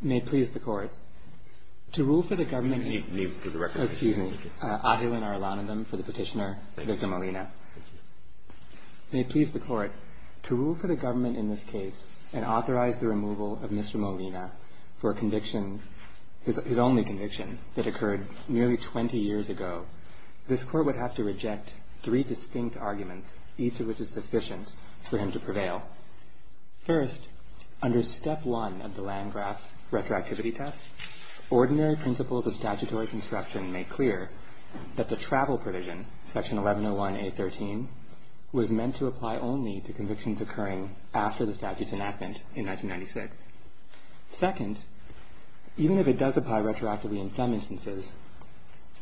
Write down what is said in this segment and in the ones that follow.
May it please the Court, to rule for the government in this case and authorize the removal of Mr. Molina for his only conviction that occurred nearly 20 years ago, this Court would have to reject three distinct arguments, each of which is sufficient for him to prevail. First, under Step 1 of the Landgraf Retroactivity Test, ordinary principles of statutory construction make clear that the travel provision, Section 1101A.13, was meant to apply only to convictions occurring after the statute's enactment in 1996. Second, even if it does apply retroactively in some instances,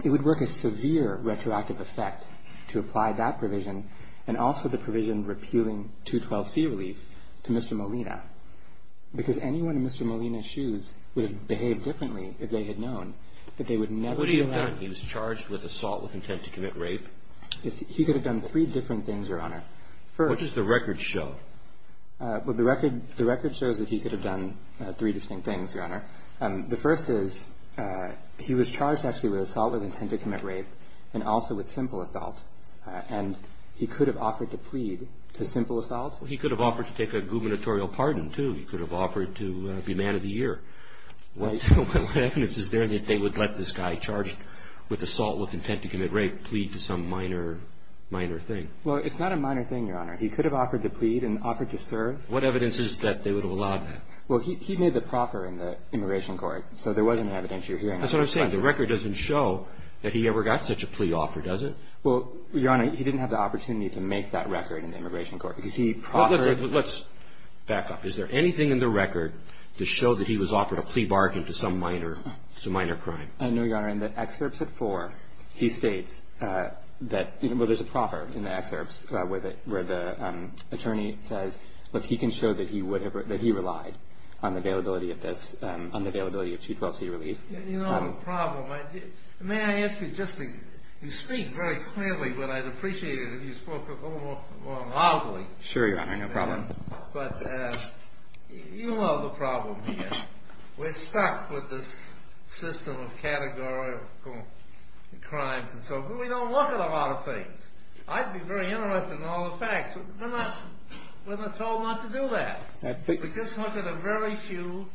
it would work a severe retroactive effect to apply that provision, and also the provision repealing 212C relief, to Mr. Molina, because anyone in Mr. Molina's shoes would have behaved differently if they had known that they would never be allowed. What would he have done? He was charged with assault with intent to commit rape? He could have done three different things, Your Honor. What does the record show? Well, the record shows that he could have done three distinct things, Your Honor. The first is he was charged, actually, with assault with intent to commit rape, and also with simple assault, and he could have offered to plead to simple assault? Well, he could have offered to take a gubernatorial pardon, too. He could have offered to be man of the year. What evidence is there that they would let this guy charged with assault with intent to commit rape plead to some minor, minor thing? Well, it's not a minor thing, Your Honor. He could have offered to plead and offered to serve. What evidence is there that they would have allowed that? Well, he made the proffer in the immigration court, so there wasn't evidence you're hearing. That's what I'm saying. The record doesn't show that he ever got such a plea offer, does it? Well, Your Honor, he didn't have the opportunity to make that record in the immigration court, because he proffered. Let's back up. Is there anything in the record to show that he was offered a plea bargain to some minor crime? No, Your Honor. Your Honor, in the excerpts at 4, he states that there's a proffer in the excerpts where the attorney says, look, he can show that he relied on the availability of this, on the availability of 212c relief. You know the problem. May I ask you just to speak very clearly, but I'd appreciate it if you spoke a little more loudly. Sure, Your Honor. No problem. But you know the problem here. We're stuck with this system of categorical crimes and so forth. We don't look at a lot of things. I'd be very interested in all the facts. We're not told not to do that. We just look at a very few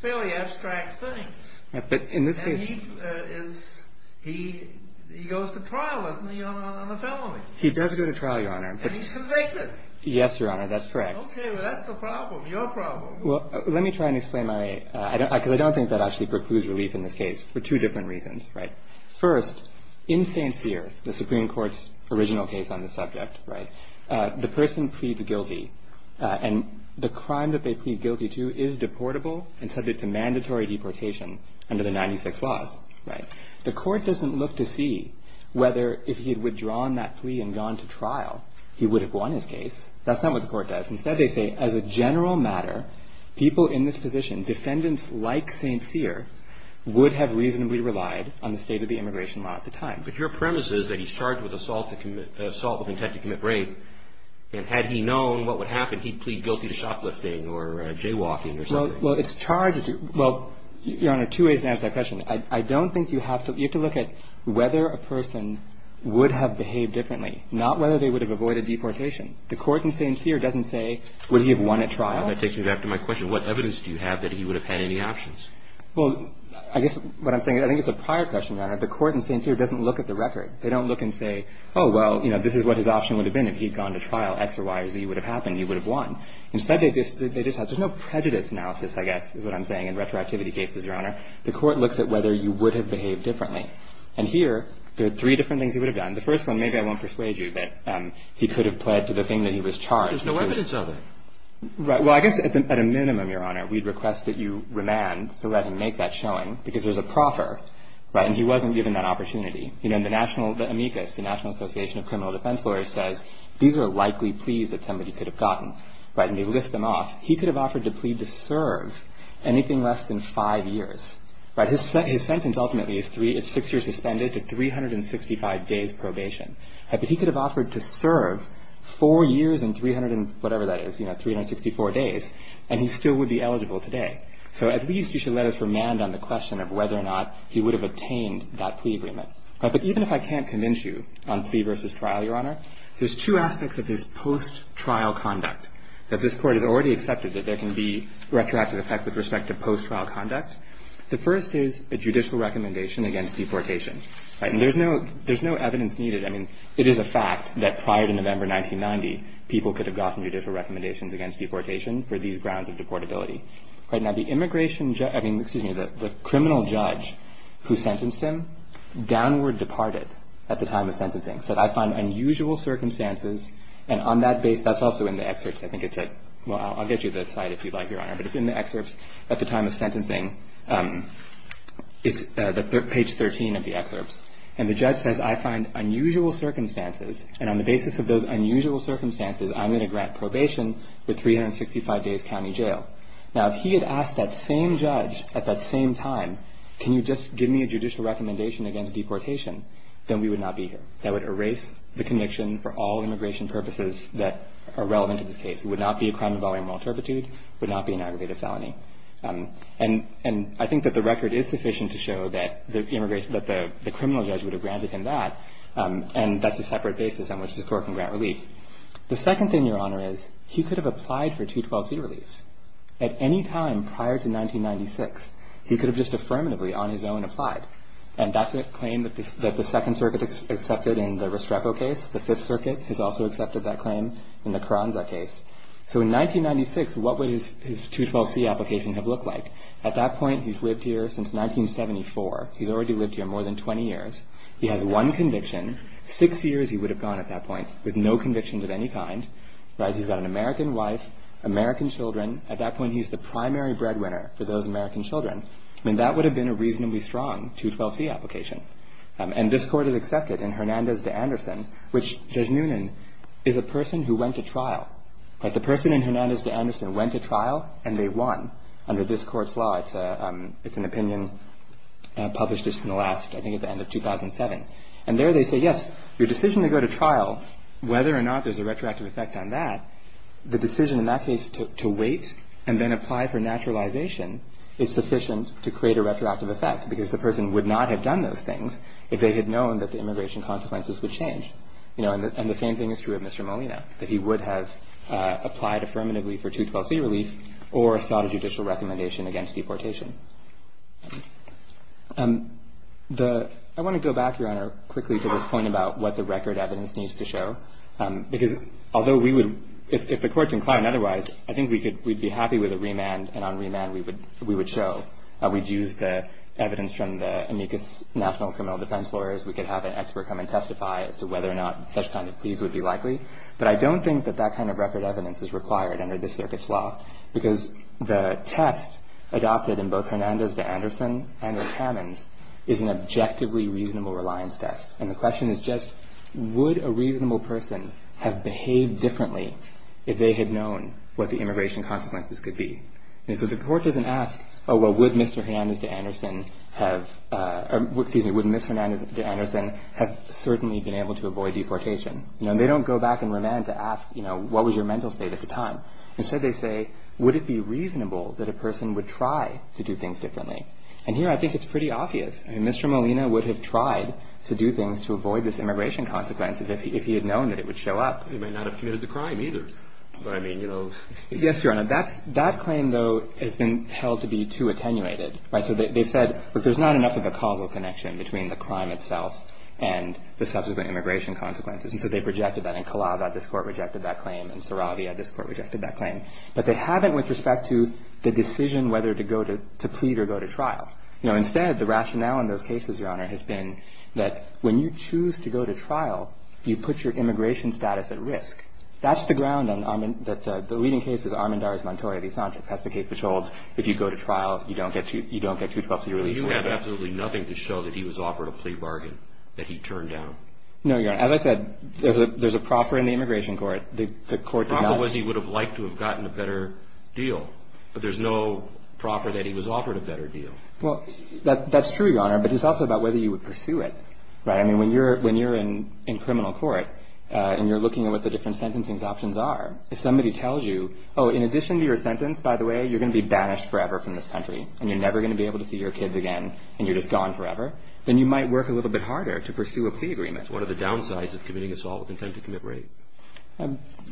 fairly abstract things. But in this case. And he goes to trial, doesn't he, on a felony? He does go to trial, Your Honor. And he's convicted. Yes, Your Honor, that's correct. Okay. Well, that's the problem. Your problem. Well, let me try and explain my, because I don't think that actually precludes relief in this case for two different reasons. First, in St. Cyr, the Supreme Court's original case on the subject, the person pleads guilty. And the crime that they plead guilty to is deportable and subject to mandatory deportation under the 96 laws. The court doesn't look to see whether if he had withdrawn that plea and gone to trial, he would have won his case. That's not what the court does. Instead, they say, as a general matter, people in this position, defendants like St. Cyr, would have reasonably relied on the state of the immigration law at the time. But your premise is that he's charged with assault with intent to commit rape. And had he known what would happen, he'd plead guilty to shoplifting or jaywalking or something. Well, it's charged. Well, Your Honor, two ways to answer that question. I don't think you have to, you have to look at whether a person would have behaved differently, not whether they would have avoided deportation. The court in St. Cyr doesn't say, would he have won at trial. That takes me back to my question. What evidence do you have that he would have had any options? Well, I guess what I'm saying, I think it's a prior question, Your Honor. The court in St. Cyr doesn't look at the record. They don't look and say, oh, well, you know, this is what his option would have been if he'd gone to trial. X or Y or Z would have happened. He would have won. Instead, they just have, there's no prejudice analysis, I guess, is what I'm saying in retroactivity cases, Your Honor. The court looks at whether you would have behaved differently. And here, there are three different things he would have done. The first one, maybe I won't persuade you that he could have pled to the thing that he was charged. But there's no evidence of it. Right. Well, I guess at a minimum, Your Honor, we'd request that you remand to let him make that showing because there's a proffer. Right. And he wasn't given that opportunity. You know, the national, the amicus, the National Association of Criminal Defense Lawyers says, these are likely pleas that somebody could have gotten. Right. And they list them off. He could have offered to plead to serve anything less than five years. Right. His sentence ultimately is six years suspended to 365 days probation. Right. But he could have offered to serve four years and 300 and whatever that is, you know, 364 days. And he still would be eligible today. So at least you should let us remand on the question of whether or not he would have attained that plea agreement. Right. But even if I can't convince you on plea versus trial, Your Honor, there's two aspects of his post-trial conduct that this can be retrospective effect with respect to post-trial conduct. The first is a judicial recommendation against deportation. Right. And there's no there's no evidence needed. I mean, it is a fact that prior to November 1990, people could have gotten judicial recommendations against deportation for these grounds of deportability. Right. Now, the immigration, I mean, the criminal judge who sentenced him downward departed at the time of sentencing. So I find unusual circumstances. And on that base, that's also in the excerpts. I think it's a. Well, I'll get you the site if you'd like, Your Honor. But it's in the excerpts at the time of sentencing. It's page 13 of the excerpts. And the judge says, I find unusual circumstances. And on the basis of those unusual circumstances, I'm going to grant probation with 365 days county jail. Now, if he had asked that same judge at that same time, can you just give me a judicial recommendation against deportation, then we would not be here. That would erase the conviction for all immigration purposes that are relevant to this case. It would not be a crime involving moral turpitude. It would not be an aggravated felony. And I think that the record is sufficient to show that the criminal judge would have granted him that. And that's a separate basis on which this court can grant relief. The second thing, Your Honor, is he could have applied for 212C relief. At any time prior to 1996, he could have just affirmatively on his own applied. And that's a claim that the Second Circuit accepted in the Restrepo case. The Fifth Circuit has also accepted that claim in the Carranza case. So in 1996, what would his 212C application have looked like? At that point, he's lived here since 1974. He's already lived here more than 20 years. He has one conviction. Six years he would have gone at that point with no convictions of any kind. He's got an American wife, American children. At that point, he's the primary breadwinner for those American children. And that would have been a reasonably strong 212C application. And this court has accepted in Hernandez v. Anderson, which Judge Noonan is a person who went to trial. The person in Hernandez v. Anderson went to trial, and they won under this court's law. It's an opinion published just in the last, I think, at the end of 2007. And there they say, yes, your decision to go to trial, whether or not there's a retroactive effect on that, the decision in that case to wait and then apply for naturalization is sufficient to create a retroactive effect because the person would not have done those things if they had known that the immigration consequences would change. You know, and the same thing is true of Mr. Molina, that he would have applied affirmatively for 212C relief or sought a judicial recommendation against deportation. I want to go back, Your Honor, quickly to this point about what the record evidence needs to show, because although we would, if the court's inclined otherwise, I think we'd be happy with a remand, and on remand we would show that we'd use the evidence from the amicus national criminal defense lawyers. We could have an expert come and testify as to whether or not such kind of pleas would be likely. But I don't think that that kind of record evidence is required under this circuit's law, because the test adopted in both Hernandez v. Anderson and Rick Hammons is an objectively reasonable reliance test. And the question is just, would a reasonable person have behaved differently if they had known what the immigration consequences could be? And so the court doesn't ask, oh, well, would Mr. Hernandez v. Anderson have, excuse me, would Ms. Hernandez v. Anderson have certainly been able to avoid deportation? No, they don't go back in remand to ask, you know, what was your mental state at the time? Instead they say, would it be reasonable that a person would try to do things differently? And here I think it's pretty obvious. I mean, Mr. Molina would have tried to do things to avoid this immigration consequence if he had known that it would show up. He might not have committed the crime either. But I mean, you know. Yes, Your Honor. That claim, though, has been held to be too attenuated. Right? So they've said, look, there's not enough of a causal connection between the crime itself and the subsequent immigration consequences. And so they've rejected that. In Calaba, this Court rejected that claim. In Saravia, this Court rejected that claim. But they haven't with respect to the decision whether to plead or go to trial. You know, instead, the rationale in those cases, Your Honor, has been that when you choose to go to trial, you put your immigration status at risk. That's the ground that the leading case is Armendariz-Montoya v. Sanchez. That's the case which holds if you go to trial, you don't get 212-C relief. But you have absolutely nothing to show that he was offered a plea bargain that he turned down. No, Your Honor. As I said, there's a proffer in the immigration court. The court did not. The proffer was he would have liked to have gotten a better deal. But there's no proffer that he was offered a better deal. Well, that's true, Your Honor. But it's also about whether you would pursue it. Right? I mean, when you're in criminal court and you're looking at what the different sentencing options are, if somebody tells you, oh, in addition to your sentence, by the way, you're going to be banished forever from this country and you're never going to be able to see your kids again and you're just gone forever, then you might work a little bit harder to pursue a plea agreement. What are the downsides of committing assault with intent to commit rape?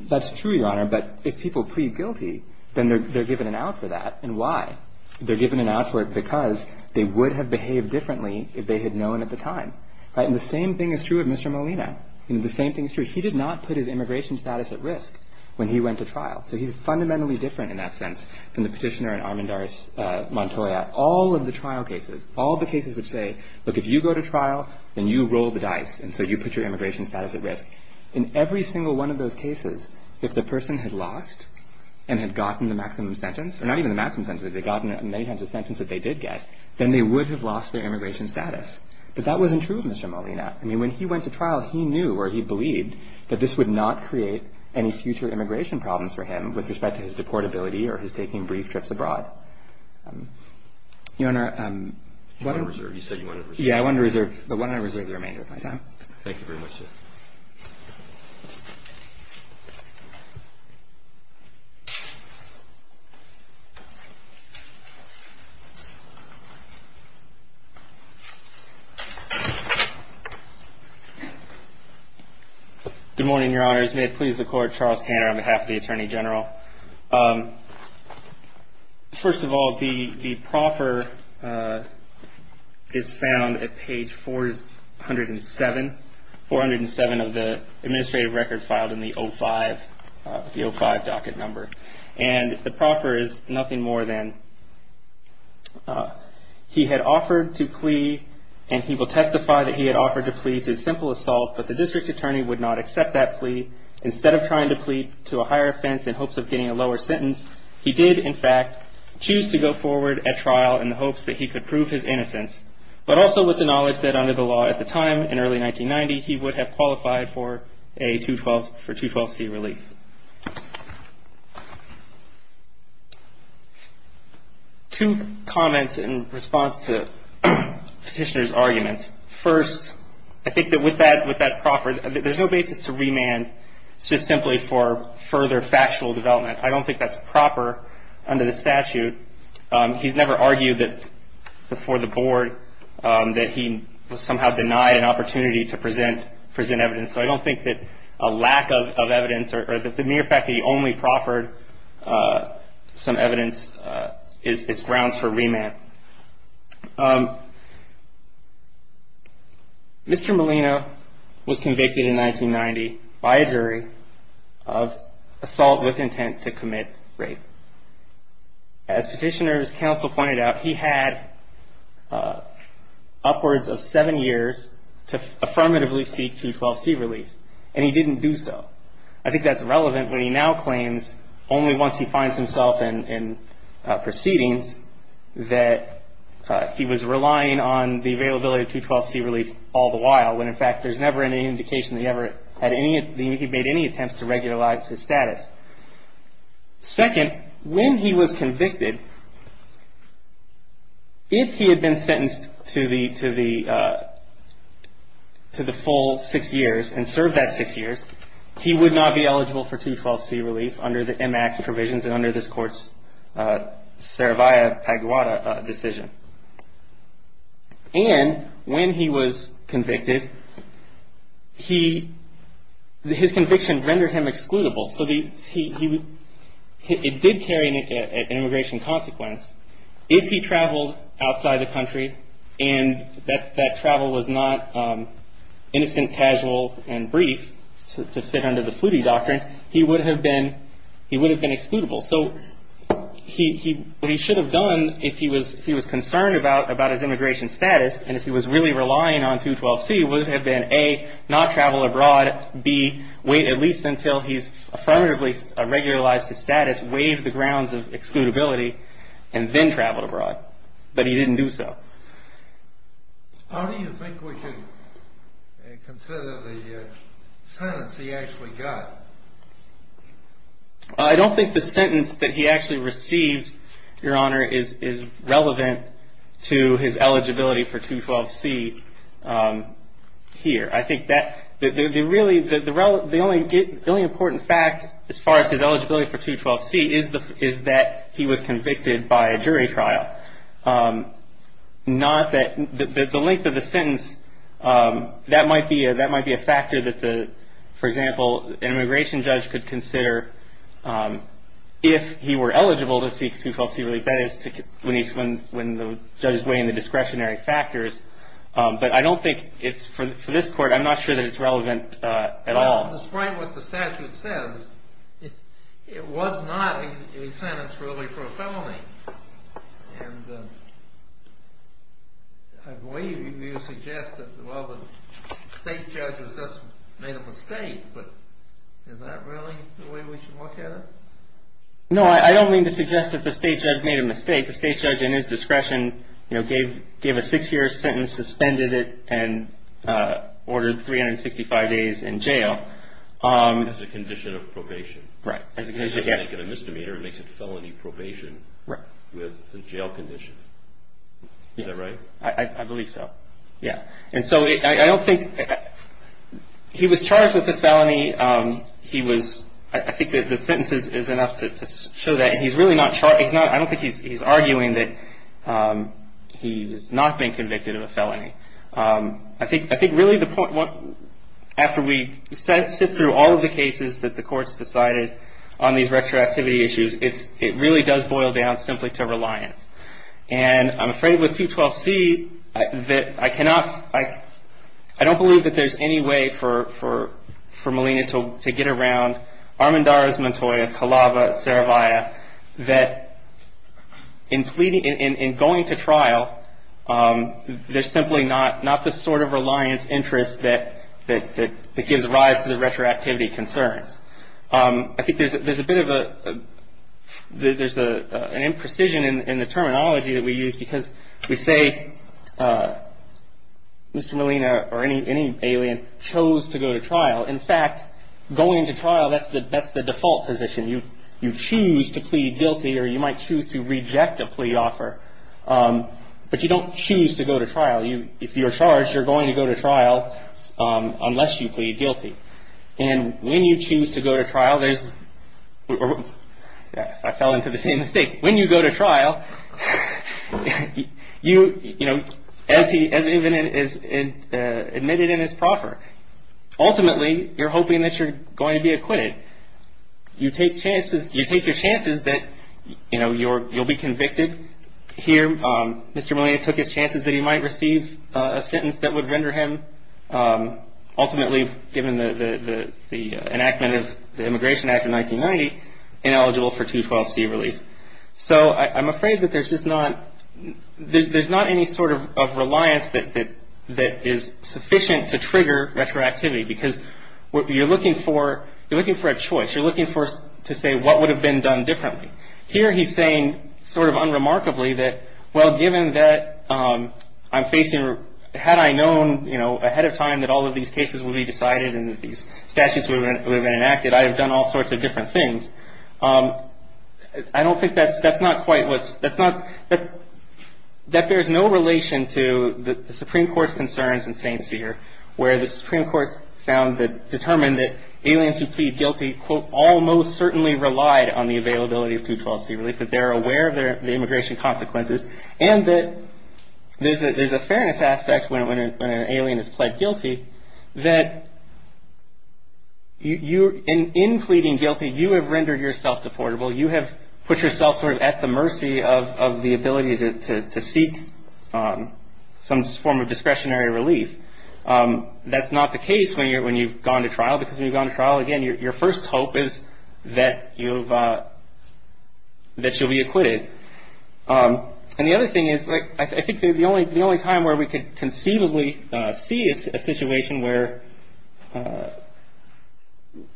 That's true, Your Honor. But if people plead guilty, then they're given an out for that. And why? They're given an out for it because they would have behaved differently if they had known at the time. And the same thing is true of Mr. Molina. The same thing is true. He did not put his immigration status at risk when he went to trial. So he's fundamentally different in that sense than the petitioner in Armendaris Montoya. All of the trial cases, all the cases which say, look, if you go to trial, then you roll the dice. And so you put your immigration status at risk. In every single one of those cases, if the person had lost and had gotten the maximum sentence, or not even the maximum sentence, if they'd gotten many times the sentence that they did get, then they would have lost their immigration status. But that wasn't true of Mr. Molina. I mean, when he went to trial, he knew or he believed that this would not create any future immigration problems for him with respect to his deportability or his taking brief trips abroad. Your Honor, what I'm going to reserve. You said you wanted to reserve. Yeah, I wanted to reserve. But why don't I reserve the remainder of my time? Thank you very much, sir. Thank you. Good morning, Your Honors. May it please the Court, Charles Tanner on behalf of the Attorney General. First of all, the proffer is found at page 407. 407 of the administrative record filed in the 05, the 05 docket number. And the proffer is nothing more than he had offered to plea, and he will testify that he had offered to plea to a simple assault, instead of trying to plead to a higher offense in hopes of getting a lower sentence. He did, in fact, choose to go forward at trial in the hopes that he could prove his innocence, but also with the knowledge that under the law at the time, in early 1990, he would have qualified for a 212C relief. I think that with that proffer, there's no basis to remand. It's just simply for further factual development. I don't think that's proper under the statute. He's never argued before the Board that he was somehow denied an opportunity to present evidence. So I don't think that a lack of evidence or the mere fact that he only proffered some evidence is grounds for remand. Mr. Molina was convicted in 1990 by a jury of assault with intent to commit rape. As Petitioner's Counsel pointed out, he had upwards of seven years to affirmatively seek 212C relief, and he didn't do so. I think that's relevant when he now claims, only once he finds himself in proceedings, that he was relying on the availability of 212C relief all the while, when, in fact, there's never any indication that he made any attempts to regularize his status. Second, when he was convicted, if he had been sentenced to the full six years and served that six years, he would not be eligible for 212C relief under the M.A.C.T. provisions and under this Court's Saravia-Paguada decision. And when he was convicted, his conviction rendered him excludable. So it did carry an immigration consequence. If he traveled outside the country and that travel was not innocent, casual, and brief, to fit under the Flutie doctrine, he would have been excludable. So what he should have done if he was concerned about his immigration status and if he was really relying on 212C would have been, A, not travel abroad, B, wait at least until he's affirmatively regularized his status, waive the grounds of excludability, and then travel abroad. But he didn't do so. How do you think we should consider the sentence he actually got? I don't think the sentence that he actually received, Your Honor, is relevant to his eligibility for 212C here. I think the only important fact as far as his eligibility for 212C is that he was convicted by a jury trial. The length of the sentence, that might be a factor that, for example, an immigration judge could consider if he were eligible to seek 212C relief. That is when the judge is weighing the discretionary factors. But I don't think it's, for this court, I'm not sure that it's relevant at all. Despite what the statute says, it was not a sentence really for a felony. And I believe you suggest that, well, the state judge just made a mistake, but is that really the way we should look at it? No, I don't mean to suggest that the state judge made a mistake. I think the state judge, in his discretion, gave a six-year sentence, suspended it, and ordered 365 days in jail. As a condition of probation. Right. He doesn't make it a misdemeanor. He makes it felony probation with the jail condition. Is that right? I believe so. Yeah. And so I don't think he was charged with a felony. I think the sentence is enough to show that. I don't think he's arguing that he's not been convicted of a felony. I think really the point, after we sift through all of the cases that the courts decided on these retroactivity issues, it really does boil down simply to reliance. And I'm afraid with 212C that I cannot, I don't believe that there's any way for Molina to get around Armendariz-Montoya, Calava, Saravia, that in going to trial, there's simply not the sort of reliance interest that gives rise to the retroactivity concerns. I think there's a bit of a, there's an imprecision in the terminology that we use because we say Mr. Molina or any alien chose to go to trial. In fact, going to trial, that's the default position. You choose to plead guilty or you might choose to reject a plea offer, but you don't choose to go to trial. If you're charged, you're going to go to trial unless you plead guilty. And when you choose to go to trial, there's, I fell into the same mistake. When you go to trial, you, you know, as he, as he is admitted in his proffer, ultimately you're hoping that you're going to be acquitted. You take chances, you take your chances that, you know, you'll be convicted. Here, Mr. Molina took his chances that he might receive a sentence that would render him ultimately, given the enactment of the Immigration Act of 1990, ineligible for 212C relief. So I'm afraid that there's just not, there's not any sort of reliance that is sufficient to trigger retroactivity because you're looking for, you're looking for a choice. You're looking for, to say what would have been done differently. Here he's saying sort of unremarkably that, well, given that I'm facing, had I known, you know, ahead of time that all of these cases would be decided and that these statutes would have been enacted, I'd have done all sorts of different things. I don't think that's, that's not quite what's, that's not, that there's no relation to the Supreme Court's concerns in St. Cyr where the Supreme Court's found that, determined that aliens who plead guilty, quote, almost certainly relied on the availability of 212C relief. That they're aware of their, the immigration consequences. And that there's a, there's a fairness aspect when an alien is pled guilty. That you, in pleading guilty, you have rendered yourself deportable. You have put yourself sort of at the mercy of the ability to seek some form of discretionary relief. That's not the case when you're, when you've gone to trial because when you've gone to trial, again, your first hope is that you've, that you'll be acquitted. And the other thing is, I think the only time where we could conceivably see a situation where,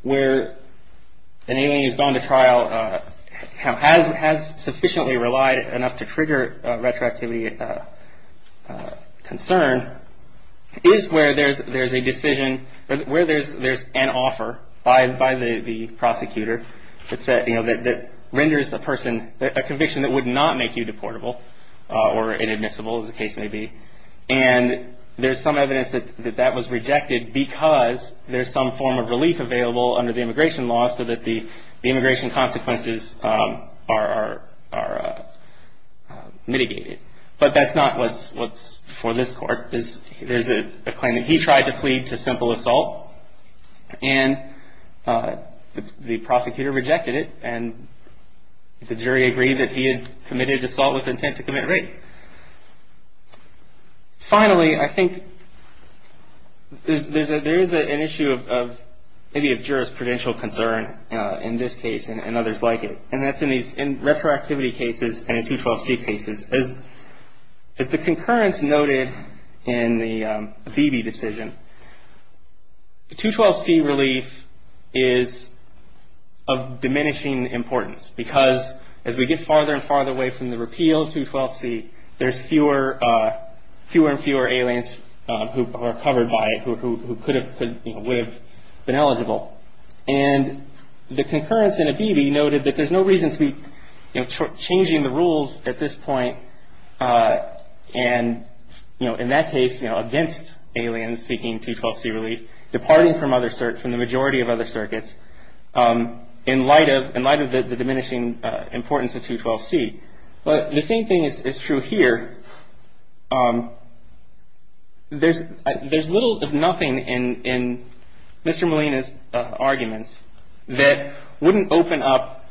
where an alien who's gone to trial has sufficiently relied enough to trigger retroactivity concern, is where there's, there's a decision, where there's, there's an offer by, by the, the prosecutor that said, you know, that, that renders a person, a conviction that would not make you deportable or inadmissible, as the case may be. And there's some evidence that, that that was rejected because there's some form of relief available under the immigration law so that the, the immigration consequences are, are, are mitigated. But that's not what's, what's for this court. There's a claim that he tried to plead to simple assault and the prosecutor rejected it and the jury agreed that he had committed assault with intent to commit rape. Finally, I think there's a, there is an issue of, of maybe of jurisprudential concern in this case and others like it. And that's in these, in retroactivity cases and in 212C cases. As, as the concurrence noted in the Abebe decision, the 212C relief is of diminishing importance because as we get farther and farther away from the repeal of 212C, there's fewer, fewer and fewer aliens who are covered by it who, who, who could have, could, you know, would have been eligible. And the concurrence in Abebe noted that there's no reason to be, you know, changing the rules at this point and, you know, in that case, you know, against aliens seeking 212C relief, departing from other, from the majority of other circuits in light of, in light of the diminishing importance of 212C. But the same thing is true here. There's, there's little if nothing in, in Mr. Molina's arguments that wouldn't open up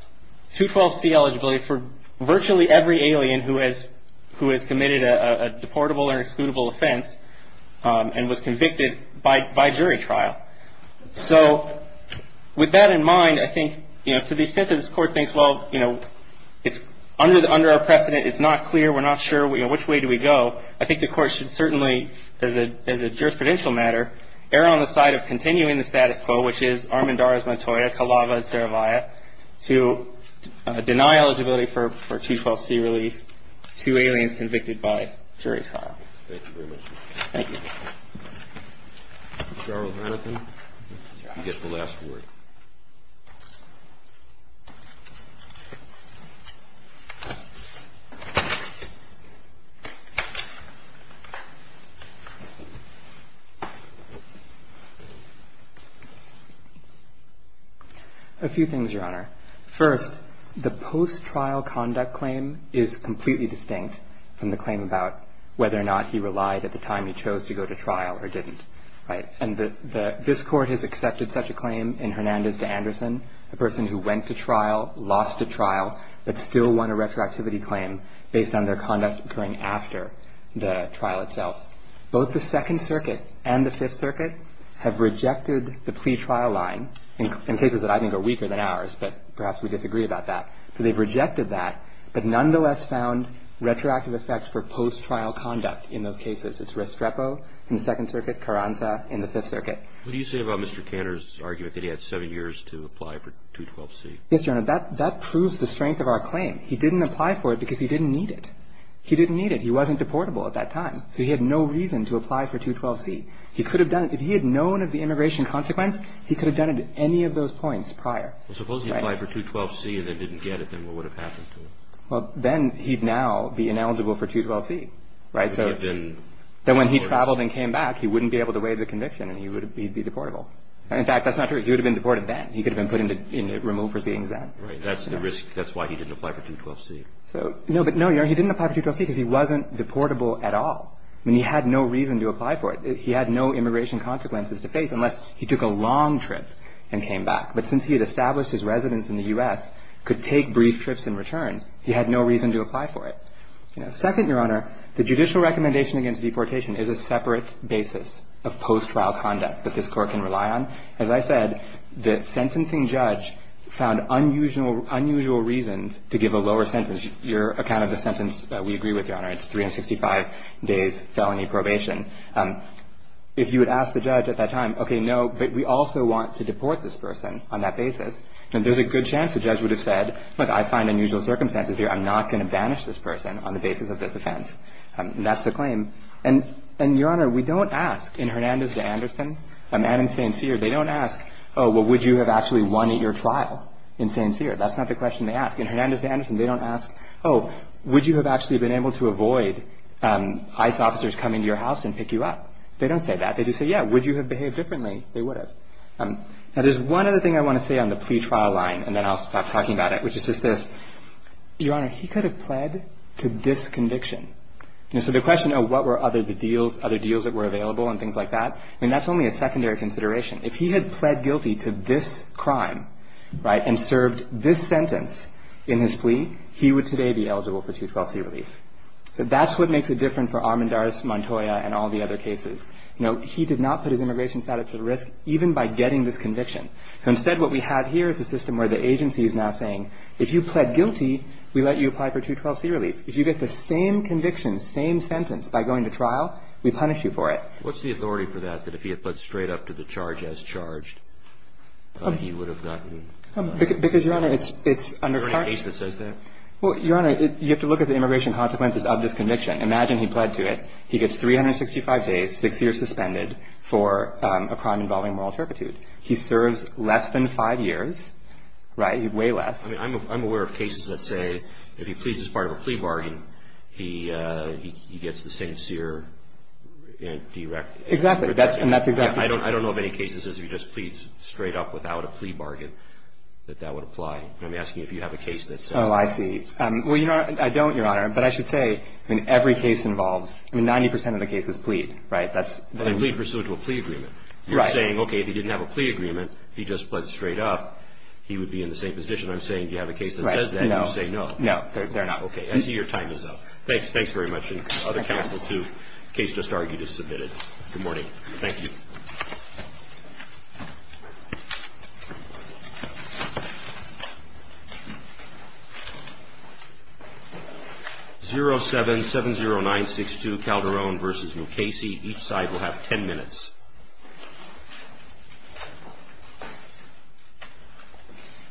212C eligibility for virtually every alien who has, who has committed a deportable or excludable offense and was convicted by, by jury trial. So with that in mind, I think, you know, to the extent that this Court thinks, well, you know, it's under, under our precedent, it's not clear, we're not sure, you know, which way do we go, I think the Court should certainly, as a, as a jurisprudential matter, err on the side of continuing the status quo, which is Armendariz, Montoya, Calava, and Saravia to deny eligibility for, for 212C relief to aliens convicted by jury trial. Thank you very much. Thank you. Mr. Arnold-Hannifin, you get the last word. A few things, Your Honor. First, the post-trial conduct claim is completely distinct from the claim about whether or not he relied, at the time he chose to go to trial, or didn't, right? And the, the, this Court has accepted such a claim in Hernandez v. Anderson, a person who went to trial, lost a trial, but still won a retroactivity claim based on their conduct occurring after the trial itself. Both the Second Circuit and the Fifth Circuit have rejected the plea trial line, in cases that I think are weaker than ours, but perhaps we disagree about that. They've rejected that, but nonetheless found retroactive effects for post-trial conduct in those cases. It's Restrepo in the Second Circuit, Carranza in the Fifth Circuit. What do you say about Mr. Kanner's argument that he had seven years to apply for 212C? Yes, Your Honor. That, that proves the strength of our claim. He didn't apply for it because he didn't need it. He didn't need it. He wasn't deportable at that time, so he had no reason to apply for 212C. He could have done it. If he had known of the immigration consequence, he could have done it at any of those points prior. Suppose he applied for 212C and then didn't get it, then what would have happened to him? Well, then he'd now be ineligible for 212C, right? So then when he traveled and came back, he wouldn't be able to waive the conviction and he would, he'd be deportable. In fact, that's not true. He would have been deported then. He could have been put into, you know, removed proceedings then. Right. That's the risk. That's why he didn't apply for 212C. So, no, but no, Your Honor, he didn't apply for 212C because he wasn't deportable at all. I mean, he had no reason to apply for it. He had no immigration consequences to face unless he took a long trip and came back. But since he had established his residence in the U.S., could take brief trips in return, he had no reason to apply for it. Second, Your Honor, the judicial recommendation against deportation is a separate basis of post-trial conduct that this Court can rely on. As I said, the sentencing judge found unusual reasons to give a lower sentence. Your account of the sentence, we agree with, Your Honor. It's 365 days felony probation. If you would ask the judge at that time, okay, no, but we also want to deport this person on that basis, then there's a good chance the judge would have said, look, I find unusual circumstances here. I'm not going to banish this person on the basis of this offense. And that's the claim. And, Your Honor, we don't ask in Hernandez v. Anderson, and in St. Cyr, they don't ask, oh, well, would you have actually won at your trial in St. Cyr? That's not the question they ask. In Hernandez v. Anderson, they don't ask, oh, would you have actually been able to avoid ICE officers coming to your house and pick you up? They don't say that. They just say, yeah, would you have behaved differently? They would have. Now, there's one other thing I want to say on the plea trial line, and then I'll stop talking about it, which is just this. Your Honor, he could have pled to this conviction. And so the question, oh, what were other deals that were available and things like that, I mean, that's only a secondary consideration. If he had pled guilty to this crime, right, and served this sentence in his plea, he would today be eligible for 212c relief. So that's what makes it different for Armendariz, Montoya, and all the other cases. You know, he did not put his immigration status at risk even by getting this conviction. So instead, what we have here is a system where the agency is now saying, if you pled guilty, we let you apply for 212c relief. If you get the same conviction, same sentence by going to trial, we punish you for it. What's the authority for that, that if he had pled straight up to the charge as charged, he would have gotten? Because, Your Honor, it's under charges. Is there any case that says that? Well, Your Honor, you have to look at the immigration consequences of this conviction. Imagine he pled to it. He gets 365 days, six years suspended for a crime involving moral turpitude. He serves less than five years, right, way less. I mean, I'm aware of cases that say if he pleads as part of a plea bargain, he gets the sincere direct. Exactly. And that's exactly true. I don't know of any cases as if he just pleads straight up without a plea bargain that that would apply. I'm asking if you have a case that says that. Oh, I see. Well, Your Honor, I don't, Your Honor. But I should say, I mean, every case involves, I mean, 90 percent of the cases plead. Right? But they plead pursuant to a plea agreement. Right. You're saying, okay, if he didn't have a plea agreement, he just pled straight up, he would be in the same position. I'm saying, do you have a case that says that, and you say no. No. No, they're not. Okay. I see your time is up. Thanks very much. And other counsel, too. The case just argued is submitted. Good morning. Thank you. 0770962 Calderon v. Mukasey. Each side will have ten minutes.